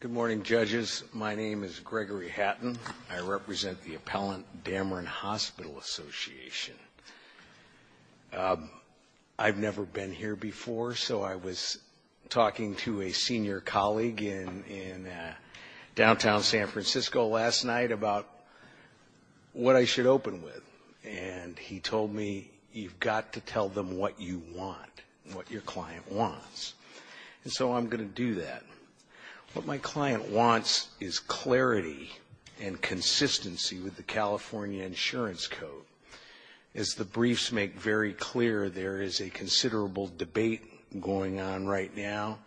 Good morning, Judges. My name is Gregory Hatton. I represent the Appellant Dameron Hospital Association. I've never been here before, so I was talking to a senior colleague in downtown San Francisco last night about what I should open with. And he told me, you've got to tell them what you want, what your client wants. And so I'm going to do that. What my client wants is clarity and consistency with the California Insurance Code. As the briefs make very clear, there is a considerable debate going on right now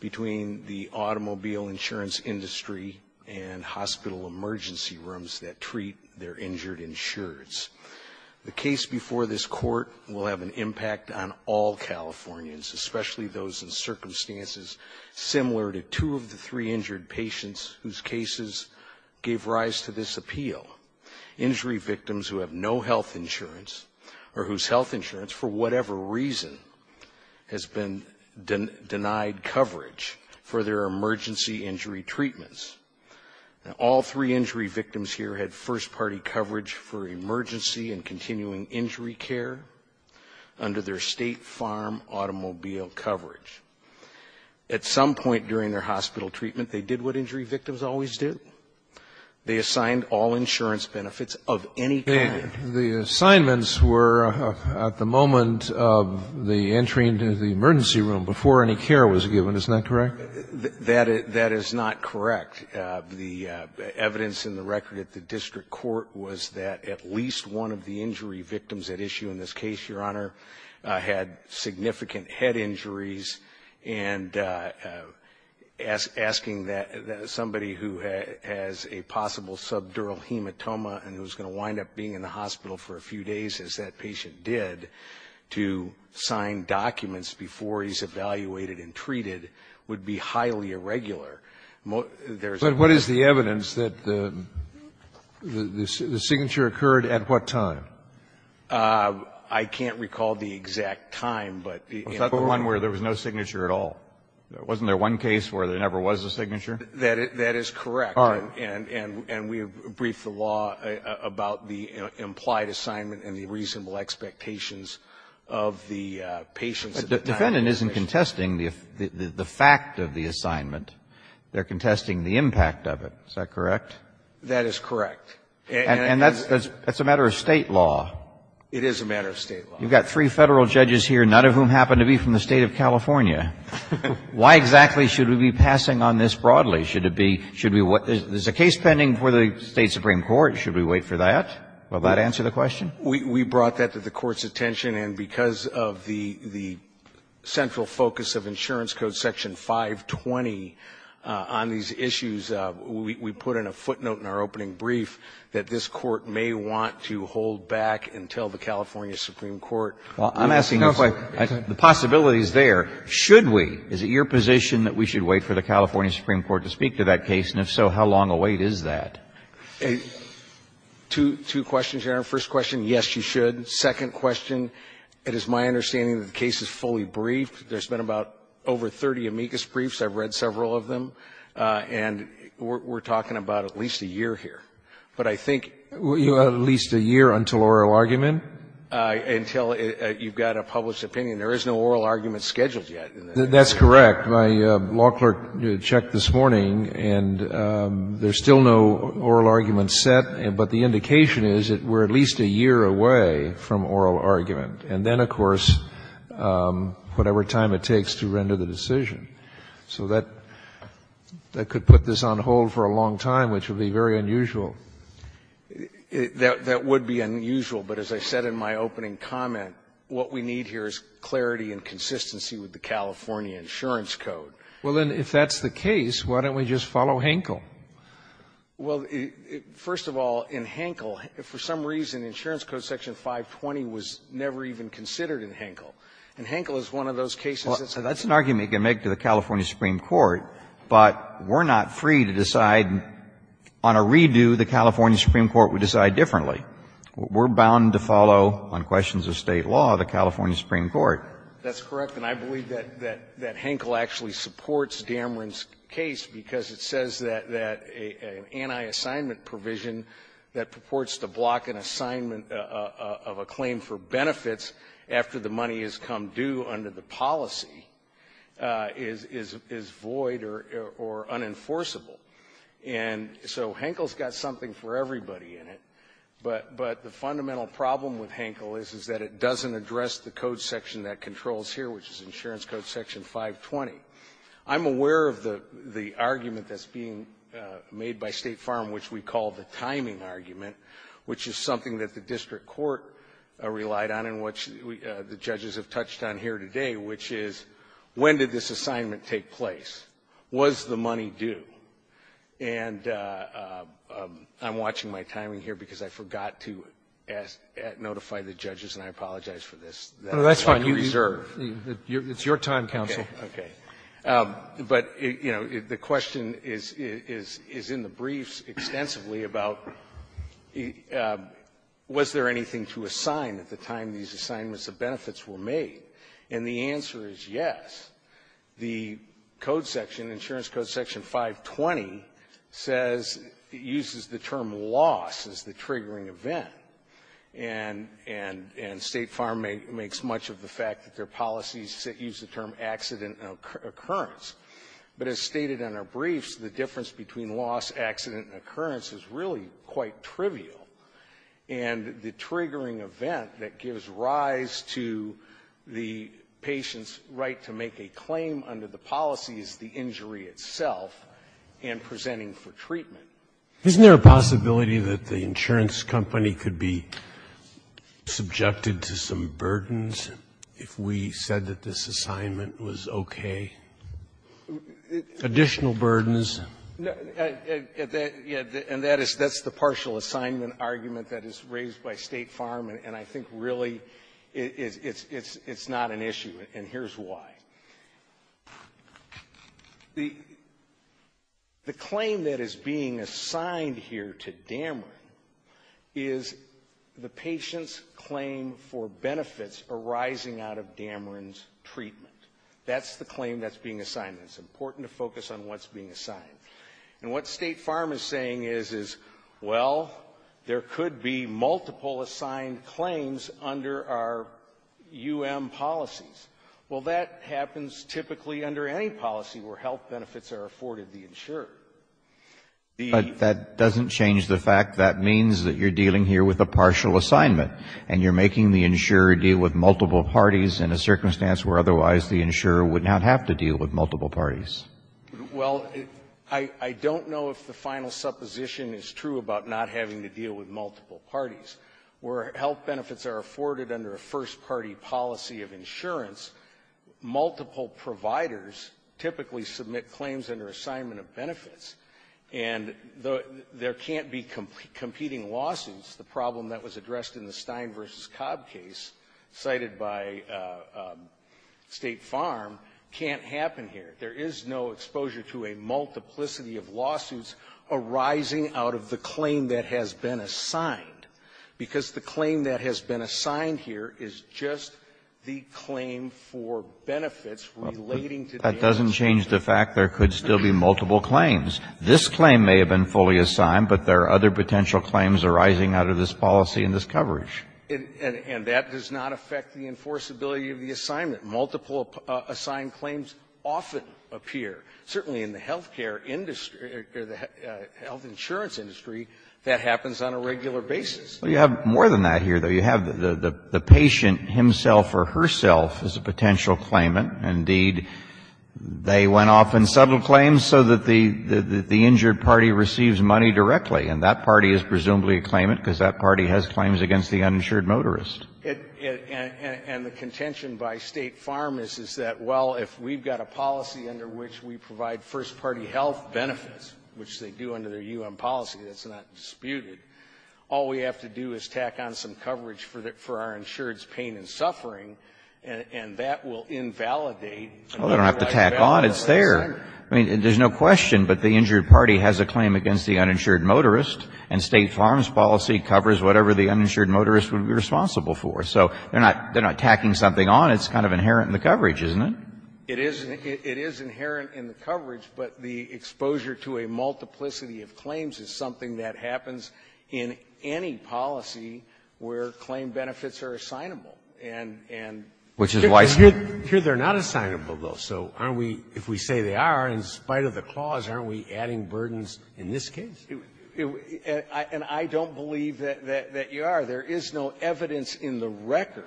between the automobile insurance industry and hospital emergency rooms that treat their injured insureds. The case before this Court will have an impact on all Californians, especially those in circumstances similar to two of the three injured patients whose cases gave rise to this appeal. Injury victims who have no health insurance or whose health insurance, for whatever reason, has been denied coverage for their emergency injury treatments. Now, all three injury victims here had first-party coverage for emergency and continuing injury care under their State Farm automobile coverage. At some point during their hospital treatment, they did what injury victims always do. They assigned all insurance benefits of any kind. The assignments were at the moment of the entry into the emergency room before any care was given. Isn't that correct? That is not correct. The evidence in the record at the district court was that at least one of the injury and asking that somebody who has a possible subdural hematoma and who is going to wind up being in the hospital for a few days, as that patient did, to sign documents before he is evaluated and treated would be highly irregular. But what is the evidence that the signature occurred at what time? I can't recall the exact time. Is that the one where there was no signature at all? Wasn't there one case where there never was a signature? That is correct. All right. And we briefed the law about the implied assignment and the reasonable expectations of the patients at the time. The defendant isn't contesting the fact of the assignment. They are contesting the impact of it. Is that correct? That is correct. And that's a matter of State law. It is a matter of State law. You've got three Federal judges here, none of whom happen to be from the State of California. Why exactly should we be passing on this broadly? Should it be, should we wait? There is a case pending for the State supreme court. Should we wait for that? Will that answer the question? We brought that to the Court's attention. And because of the central focus of Insurance Code Section 520 on these issues, we put in a footnote in our opening brief that this Court may want to hold back until the California supreme court. Well, I'm asking if the possibility is there. Should we? Is it your position that we should wait for the California supreme court to speak to that case? And if so, how long a wait is that? Two questions, Your Honor. First question, yes, you should. Second question, it is my understanding that the case is fully briefed. There's been about over 30 amicus briefs. I've read several of them. And we're talking about at least a year here. But I think at least a year until oral argument? Until you've got a published opinion. There is no oral argument scheduled yet. That's correct. My law clerk checked this morning, and there's still no oral argument set. But the indication is that we're at least a year away from oral argument. And then, of course, whatever time it takes to render the decision. So that could put this on hold for a long time, which would be very unusual. That would be unusual. But as I said in my opening comment, what we need here is clarity and consistency with the California insurance code. Well, then, if that's the case, why don't we just follow Henkel? Well, first of all, in Henkel, for some reason, insurance code section 520 was never even considered in Henkel. And Henkel is one of those cases. That's an argument you can make to the California Supreme Court, but we're not free to decide on a redo the California Supreme Court would decide differently. We're bound to follow, on questions of State law, the California Supreme Court. That's correct. And I believe that Henkel actually supports Dameron's case because it says that an anti-assignment provision that purports to block an assignment of a claim for benefits after the money has come due under the policy is void or unenforceable. And so Henkel's got something for everybody in it. But the fundamental problem with Henkel is that it doesn't address the code section that controls here, which is insurance code section 520. I'm aware of the argument that's being made by State Farm, which we call the timing argument, which is something that the district court relied on and which the judges have touched on here today, which is when did this assignment take place? Was the money due? And I'm watching my timing here because I forgot to ask to notify the judges, and I apologize for this. It's like a reserve. It's your time, counsel. Okay. Okay. But, you know, the question is in the briefs extensively about was there anything to assign at the time these assignments of benefits were made. And the answer is yes. The code section, insurance code section 520, says it uses the term loss as the triggering event. And State Farm makes much of the fact that their policies use the term accident and occurrence. But as stated in our briefs, the difference between loss, accident, and occurrence is really quite trivial. And the triggering event that gives rise to the patient's right to make a claim under the policy is the injury itself and presenting for treatment. Isn't there a possibility that the insurance company could be subjected to some burdens if we said that this assignment was okay? Additional burdens? And that is the partial assignment argument that is raised by State Farm, and I think really it's not an issue, and here's why. The claim that is being assigned here to Dameron is the patient's claim for benefits arising out of Dameron's treatment. That's the claim that's being assigned. It's important to focus on what's being assigned. And what State Farm is saying is, well, there could be multiple assigned claims under our U.M. policies. Well, that happens typically under any policy where health benefits are afforded the insurer. The ---- Kennedy, that doesn't change the fact that means that you're dealing here with a partial assignment, and you're making the insurer deal with multiple parties in a circumstance where otherwise the insurer would not have to deal with multiple parties. Well, I don't know if the final supposition is true about not having to deal with multiple parties. Where health benefits are afforded under a first-party policy of insurance, multiple providers typically submit claims under assignment of benefits. And there can't be competing lawsuits. The problem that was addressed in the Stein v. Cobb case cited by State Farm can't happen here. There is no exposure to a multiplicity of lawsuits arising out of the claim that has been assigned, because the claim that has been assigned here is just the claim for benefits relating to the assignment. This claim may have been fully assigned, but there are other potential claims arising out of this policy and this coverage. And that does not affect the enforceability of the assignment. Multiple-assigned claims often appear. Certainly in the health care industry or the health insurance industry, that happens on a regular basis. Well, you have more than that here, though. You have the patient himself or herself as a potential claimant. Indeed, they went off in subtle claims so that the injured party receives money directly. And that party is presumably a claimant because that party has claims against the uninsured motorist. And the contention by State Farm is that, well, if we've got a policy under which we provide first-party health benefits, which they do under their U.N. policy, that's not disputed, all we have to do is tack on some coverage for our insured's pain and suffering, and that will invalidate. Well, they don't have to tack on. It's there. I mean, there's no question, but the injured party has a claim against the uninsured motorist, and State Farm's policy covers whatever the uninsured motorist would be responsible for. So they're not tacking something on. It's kind of inherent in the coverage, isn't it? It is inherent in the coverage, but the exposure to a multiplicity of claims is something that happens in any policy where claim benefits are assignable. And so if we say they are, in spite of the clause, aren't we adding burdens in this case? And I don't believe that you are. There is no evidence in the record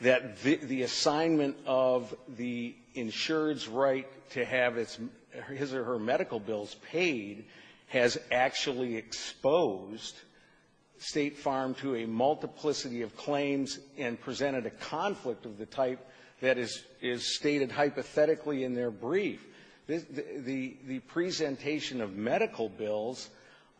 that the assignment of the insured's right to have his or her medical bills paid has actually exposed State Farm to a multiplicity of claims and presented a conflict of the type that is stated hypothetically in their brief. The presentation of medical bills,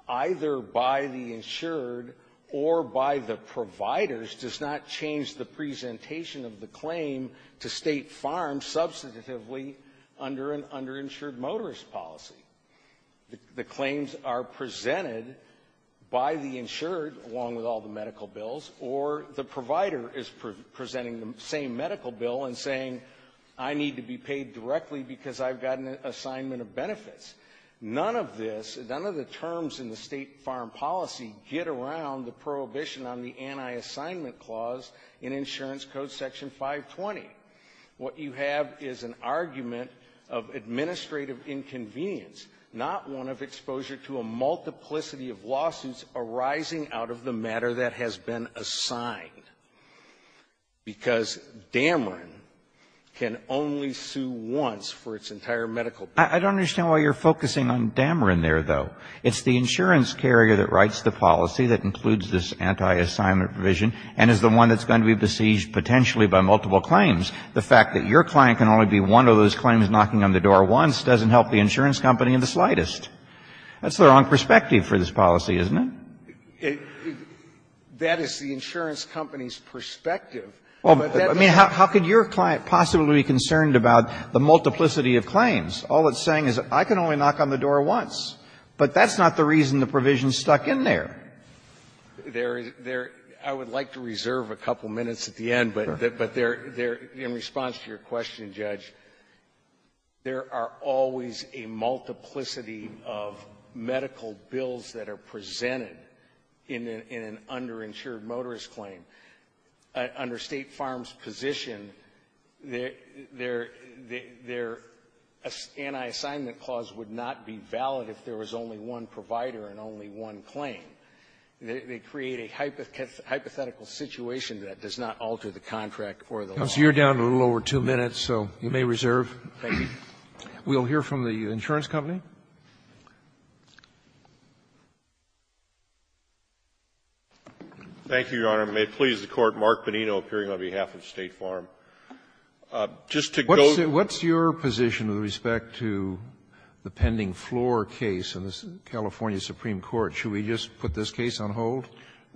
either by the insured or by the providers, does not change the presentation of the claim to State Farm substantively under an underinsured motorist policy. The claims are presented by the insured, along with all the medical bills, or the provider is presenting the same medical bill and saying, I need to be paid directly because I've got an assignment of benefits. None of this, none of the terms in the State Farm policy get around the prohibition on the anti-assignment clause in Insurance Code Section 520. What you have is an argument of administrative inconvenience, not one of exposure to a multiplicity of lawsuits arising out of the matter that has been assigned. Because Dameron can only sue once for its entire medical bill. I don't understand why you're focusing on Dameron there, though. It's the insurance carrier that writes the policy that includes this anti-assignment provision and is the one that's going to be besieged potentially by multiple claims. The fact that your client can only be one of those claims knocking on the door once doesn't help the insurance company in the slightest. That's the wrong perspective for this policy, isn't it? That is the insurance company's perspective. But that's not the reason the provision is stuck in there. There is there I would like to reserve a couple minutes at the end, but in response to your question, Judge, there are always a multiplicity of medical bills that are presented in an underinsured motorist claim. Under State Farm's position, their anti-assignment clause would not be valid if there was only one provider and only one claim. They create a hypothetical situation that does not alter the contract or the law. So you're down a little over two minutes, so you may reserve. Thank you. We'll hear from the insurance company. Thank you, Your Honor. May it please the Court, Mark Bonino, appearing on behalf of State Farm. Just to go to the next point. Scalia, what's your position with respect to the pending floor case in the California Supreme Court? Should we just put this case on hold?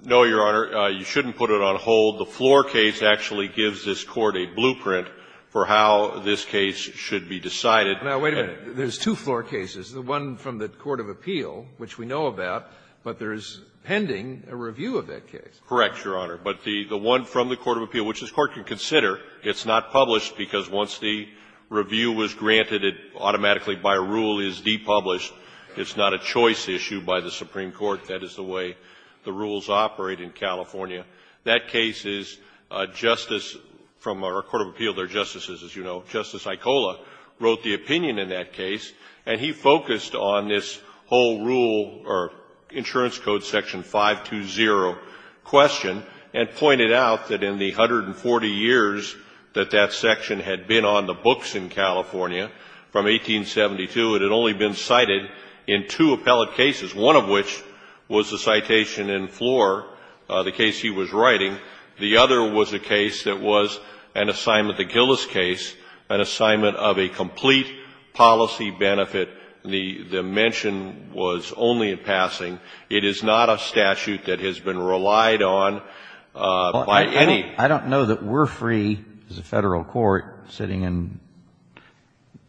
No, Your Honor, you shouldn't put it on hold. The floor case actually gives this Court a blueprint for how this case should be decided. Now, wait a minute. There's two floor cases, the one from the court of appeal, which we know about, but there is pending a review of that case. Correct, Your Honor. But the one from the court of appeal, which this Court can consider, it's not published because once the review was granted, it automatically, by a rule, is depublished. It's not a choice issue by the Supreme Court. That is the way the rules operate in California. That case is a justice from our court of appeal, their justices, as you know. Justice Aicola wrote the opinion in that case, and he focused on this whole rule or insurance code section 520 question and pointed out that in the 140 years that that section had been on the books in California from 1872, it had only been cited in two appellate cases, one of which was the citation in floor, the case he was writing. The other was a case that was an assignment, the Gillis case, an assignment of a complete policy benefit. The mention was only in passing. It is not a statute that has been relied on by any. I don't know that we're free as a Federal court sitting in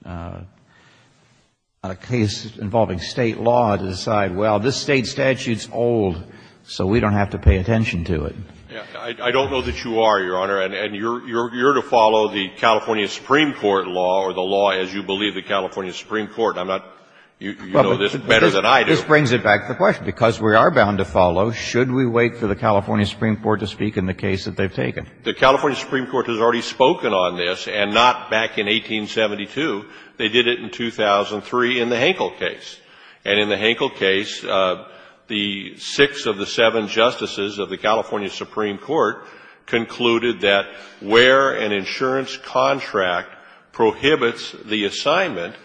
a case involving State law to decide, well, this State statute is old, so we don't have to pay attention to it. I don't know that you are, Your Honor, and you're to follow the California Supreme Court law or the law as you believe the California Supreme Court. You know this better than I do. This brings it back to the question. Because we are bound to follow, should we wait for the California Supreme Court to speak in the case that they've taken? The California Supreme Court has already spoken on this, and not back in 1872. They did it in 2003 in the Henkel case. And in the Henkel case, the six of the seven justices of the California Supreme Court concluded that where an insurance contract prohibits the assignment,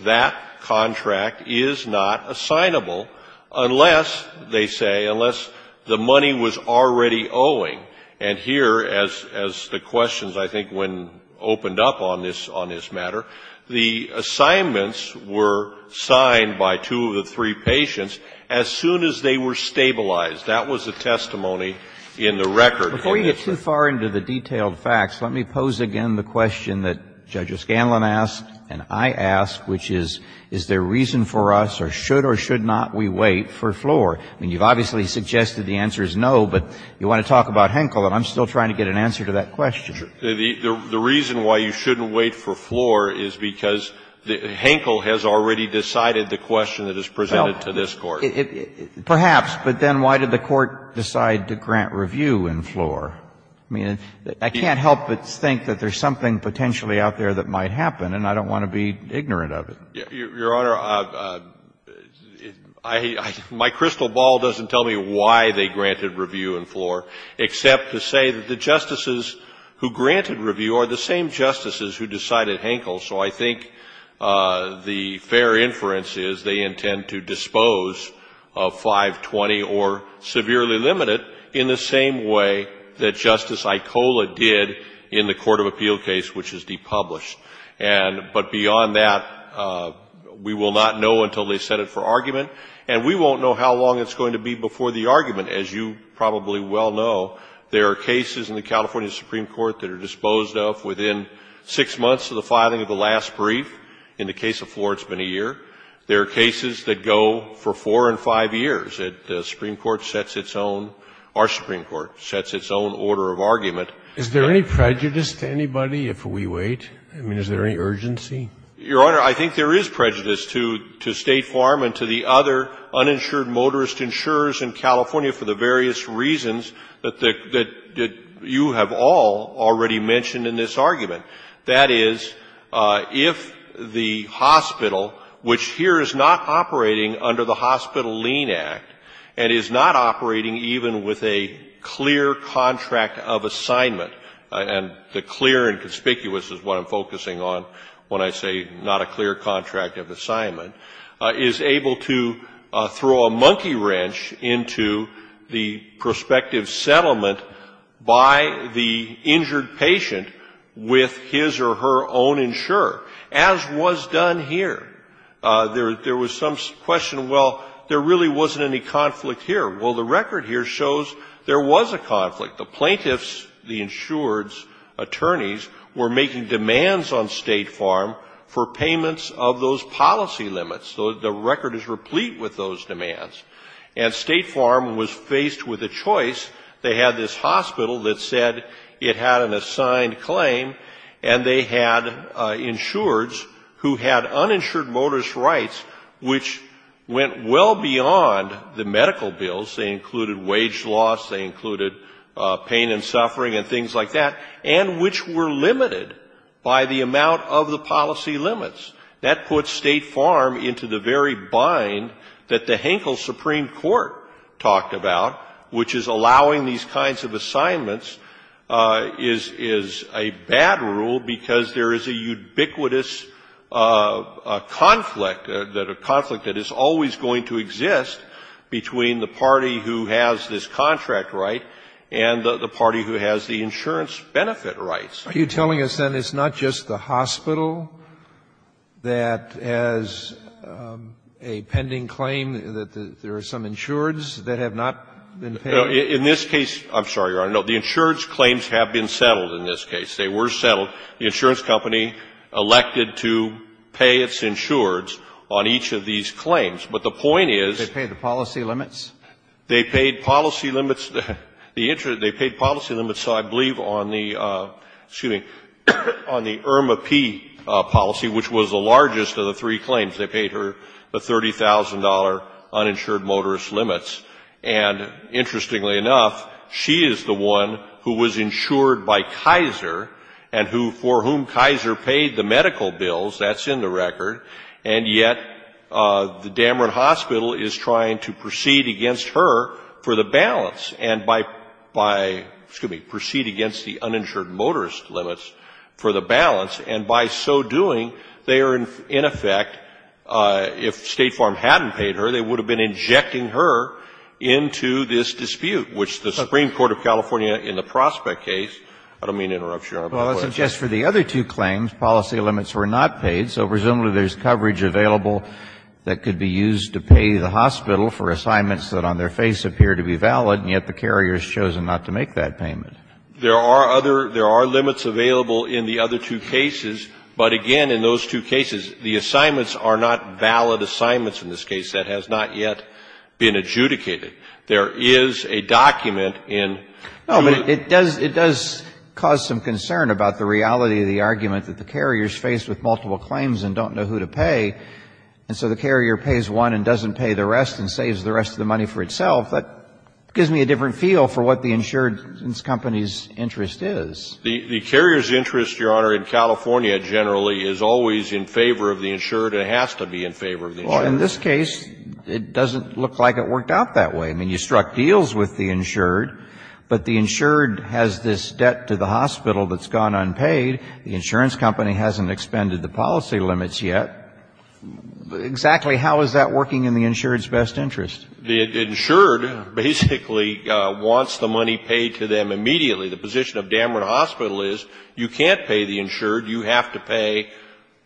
that contract is not assignable unless, they say, unless the money was already owing. And here, as the questions, I think, when opened up on this matter, the assignments were signed by two of the three patients as soon as they were stabilized. That was the testimony in the record. And it's a question that I think we need to ask ourselves, is there a reason for us or should or should not we wait for floor? I mean, you've obviously suggested the answer is no, but you want to talk about Henkel, and I'm still trying to get an answer to that question. The reason why you shouldn't wait for floor is because Henkel has already decided the question that is presented to this Court. Perhaps, but then why did the Court decide to grant review in floor? I mean, I can't help but think that there's something potentially out there that might happen, and I don't want to be ignorant of it. Your Honor, my crystal ball doesn't tell me why they granted review in floor, except to say that the justices who granted review are the same justices who decided Henkel. So I think the fair inference is they intend to dispose of 520 or severely limited in the same way that Justice Icola did in the Court of Appeal case, which is depublished. But beyond that, we will not know until they set it for argument, and we won't know how long it's going to be before the argument, as you probably well know. There are cases in the California Supreme Court that are disposed of within six months of the filing of the last brief. In the case of floor, it's been a year. There are cases that go for four and five years. The Supreme Court sets its own – our Supreme Court sets its own order of argument. Is there any prejudice to anybody if we wait? I mean, is there any urgency? Your Honor, I think there is prejudice to State Farm and to the other uninsured motorist insurers in California for the various reasons that you have all already mentioned in this argument. That is, if the hospital, which here is not operating under the Hospital Lien Act and is not operating even with a clear contract of assignment, and the clear and conspicuous is what I'm focusing on when I say not a clear contract of assignment, is able to throw a monkey wrench into the prospective settlement by the injured patient with his or her own insurer, as was done here. There was some question, well, there really wasn't any conflict here. Well, the record here shows there was a conflict. The plaintiffs, the insureds, attorneys, were making demands on State Farm for payments of those policy limits. The record is replete with those demands. And State Farm was faced with a choice. They had this hospital that said it had an assigned claim, and they had insureds who had uninsured motorist rights, which went well beyond the medical bills. They included wage loss. They included pain and suffering and things like that, and which were limited by the amount of the policy limits. That puts State Farm into the very bind that the Hankel Supreme Court talked about, which is allowing these kinds of assignments is a bad rule because there is a ubiquitous conflict, a conflict that is always going to exist between the party who has this contract right and the party who has the insurance benefit rights. Are you telling us, then, it's not just the hospital that has a pending claim, that there are some insureds that have not been paid? In this case, I'm sorry, Your Honor, no. The insureds' claims have been settled in this case. They were settled. The insurance company elected to pay its insureds on each of these claims. But the point is they paid the policy limits. They paid policy limits. They paid policy limits, I believe, on the IRMAP policy, which was the largest of the three claims. They paid her the $30,000 uninsured motorist limits. And interestingly enough, she is the one who was insured by Kaiser and who, for whom Kaiser paid the medical bills, that's in the record, and yet the Dameron Hospital is trying to proceed against her for the balance and by by, excuse me, proceed against the uninsured motorist limits for the balance, and by so doing, they are in effect, if State Farm hadn't paid her, they would have been injecting her with into this dispute, which the Supreme Court of California in the Prospect case I don't mean to interrupt, Your Honor, but I'll ask you. Well, I suggest for the other two claims, policy limits were not paid, so presumably there's coverage available that could be used to pay the hospital for assignments that on their face appear to be valid, and yet the carrier has chosen not to make that payment. There are other there are limits available in the other two cases, but again, in those two cases, the assignments are not valid assignments in this case that has not yet been adjudicated. There is a document in. No, but it does it does cause some concern about the reality of the argument that the carrier is faced with multiple claims and don't know who to pay, and so the carrier pays one and doesn't pay the rest and saves the rest of the money for itself. That gives me a different feel for what the insured company's interest is. The carrier's interest, Your Honor, in California generally is always in favor of the insured and has to be in favor of the insured. Well, in this case, it doesn't look like it worked out that way. I mean, you struck deals with the insured, but the insured has this debt to the hospital that's gone unpaid. The insurance company hasn't expended the policy limits yet. Exactly how is that working in the insured's best interest? The insured basically wants the money paid to them immediately. The insured, you have to pay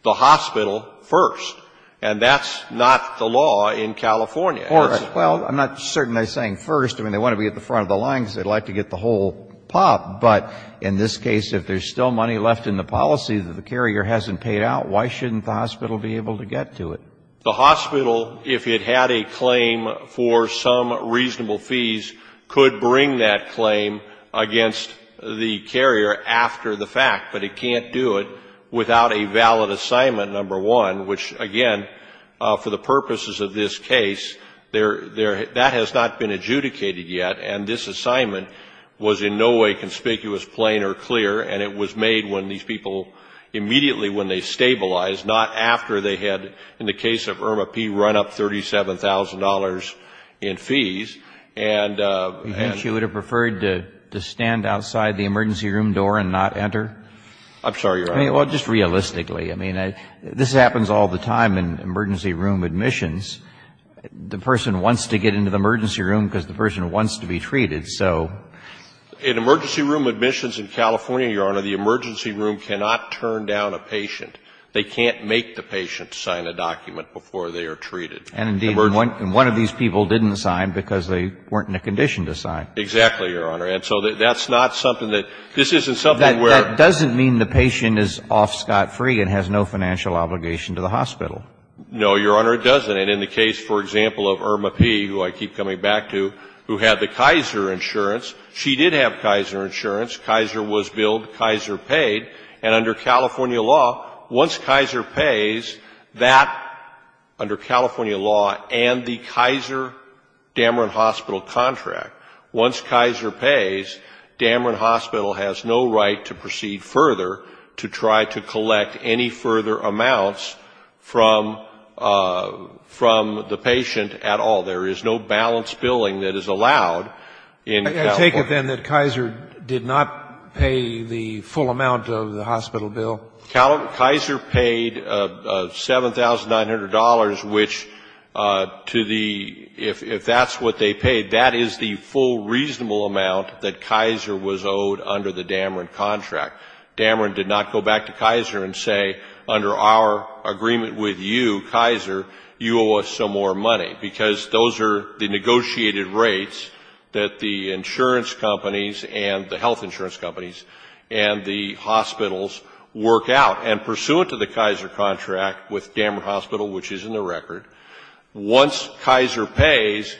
the hospital first, and that's not the law in California. Well, I'm not certain they're saying first. I mean, they want to be at the front of the line because they'd like to get the whole pop, but in this case, if there's still money left in the policy that the carrier hasn't paid out, why shouldn't the hospital be able to get to it? The hospital, if it had a claim for some reasonable fees, could bring that claim against the carrier after the fact, but it can't do it without a valid assignment, number one, which, again, for the purposes of this case, that has not been adjudicated yet, and this assignment was in no way conspicuous, plain or clear, and it was made when these people, immediately when they stabilized, not after they had, in the case of Irma P., run up $37,000 in fees, and the insured would have preferred to have the patient stand outside the emergency room door and not enter. I'm sorry, Your Honor. Well, just realistically. I mean, this happens all the time in emergency room admissions. The person wants to get into the emergency room because the person wants to be treated. So in emergency room admissions in California, Your Honor, the emergency room cannot turn down a patient. They can't make the patient sign a document before they are treated. And indeed, one of these people didn't sign because they weren't in a condition to sign. Exactly, Your Honor. And so that's not something that, this isn't something where That doesn't mean the patient is off scot-free and has no financial obligation to the hospital. No, Your Honor, it doesn't. And in the case, for example, of Irma P., who I keep coming back to, who had the Kaiser insurance, she did have Kaiser insurance. Kaiser was billed, Kaiser paid. And under California law, once Kaiser pays, that, under California law and the Kaiser Damron Hospital contract, once Kaiser pays, Damron Hospital has no right to proceed further to try to collect any further amounts from the patient at all. There is no balance billing that is allowed in California. I take it then that Kaiser did not pay the full amount of the hospital bill? Kaiser paid $7,900, which to the, if that's what they paid, that is the full reasonable amount that Kaiser was owed under the Damron contract. Damron did not go back to Kaiser and say, under our agreement with you, Kaiser, you owe us some more money. Because those are the negotiated rates that the insurance companies and the health And pursuant to the Kaiser contract with Damron Hospital, which is in the record, once Kaiser pays,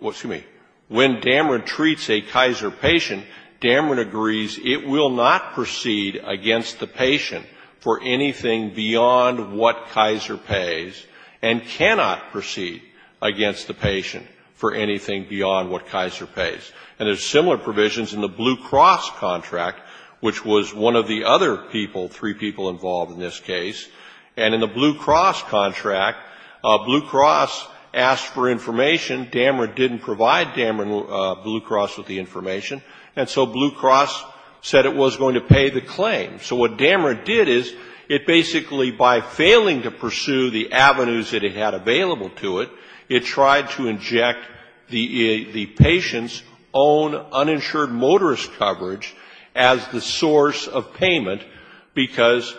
excuse me, when Damron treats a Kaiser patient, Damron agrees it will not proceed against the patient for anything beyond what Kaiser pays and cannot proceed against the patient for anything beyond what Kaiser pays. And there's similar provisions in the Blue Cross contract, which was one of the other people, three people involved in this case. And in the Blue Cross contract, Blue Cross asked for information. Damron didn't provide Damron Blue Cross with the information. And so Blue Cross said it was going to pay the claim. So what Damron did is, it basically, by failing to pursue the avenues that it had available to it, it tried to inject the patient's own uninsured motorist coverage as the source of payment, because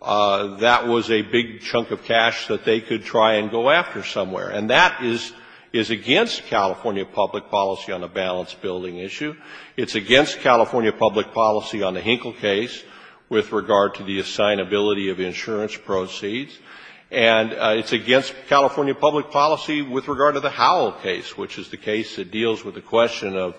that was a big chunk of cash that they could try and go after somewhere. And that is against California public policy on a balance building issue. It's against California public policy on the Hinkle case with regard to the assignability of insurance proceeds. And it's against California public policy with regard to the Howell case, which is the case that deals with the question of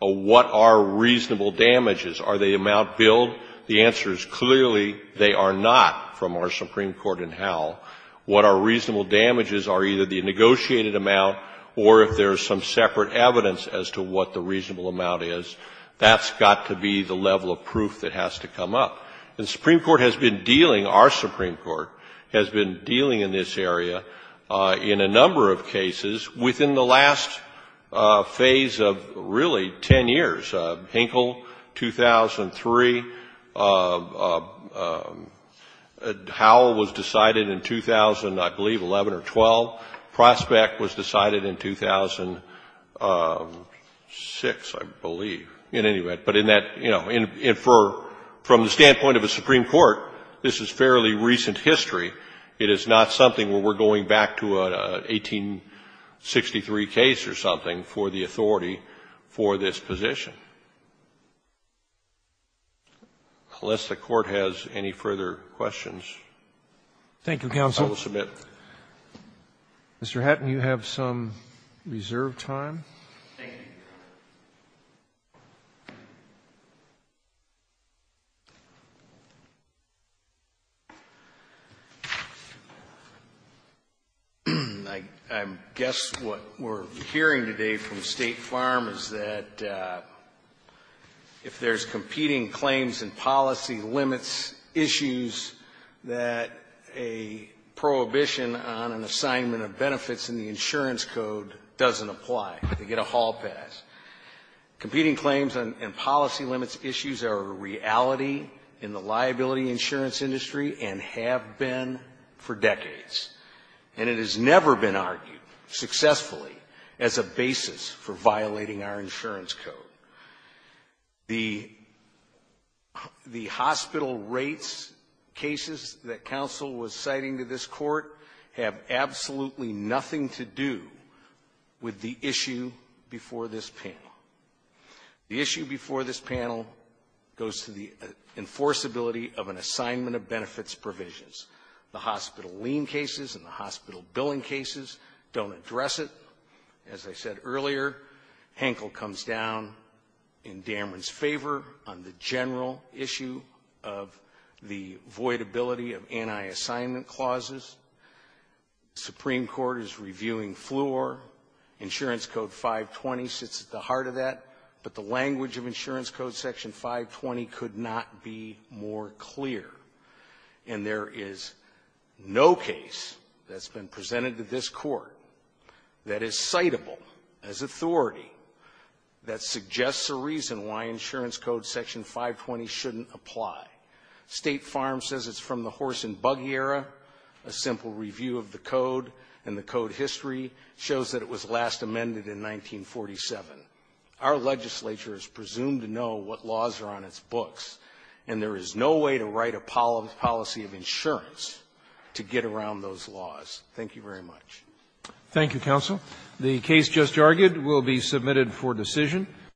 what are reasonable damages. Are they amount billed? The answer is clearly they are not from our Supreme Court in Howell. What are reasonable damages are either the negotiated amount or if there's some separate evidence as to what the reasonable amount is. That's got to be the level of proof that has to come up. And the Supreme Court has been dealing, our Supreme Court has been dealing in this area in a number of cases within the last phase of really 10 years. Hinkle, 2003. Howell was decided in 2000, I believe, 11 or 12. Prospect was decided in 2006, I believe. In any event, but in that, you know, from the standpoint of a Supreme Court, this is fairly recent history. It is not something where we're going back to an 1863 case or something for the authority for this position. Unless the Court has any further questions, I will submit. Robertson, Mr. Hatton, you have some reserved time. Thank you. I guess what we're hearing today from State Farm is that if there's competing claims and policy limits, issues that a prohibition on an assignment of benefits in the insurance code doesn't apply. They get a hall pass. Competing claims and policy limits issues are a reality in the liability insurance industry and have been for decades, and it has never been argued successfully as a basis for violating our insurance code. The hospital rates cases that counsel was citing to this Court have absolutely nothing to do with the issue before this panel. The issue before this panel goes to the enforceability of an assignment of benefits provisions. The hospital lien cases and the hospital billing cases don't address it. As I said earlier, Hankel comes down in Dameron's favor on the general issue of the voidability of anti-assignment clauses. The Supreme Court is reviewing Fleur. Insurance Code 520 sits at the heart of that, but the language of insurance code section 520 could not be more clear. And there is no case that's been presented to this Court that is citable as authority that suggests a reason why insurance code section 520 shouldn't apply. State Farm says it's from the horse and buggy era. A simple review of the code and the code history shows that it was last amended in 1947. Our legislature is presumed to know what laws are on its books, and there is no way to write a policy of insurance to get around those laws. Thank you very much. Roberts. Thank you, counsel. The case just argued will be submitted for decision.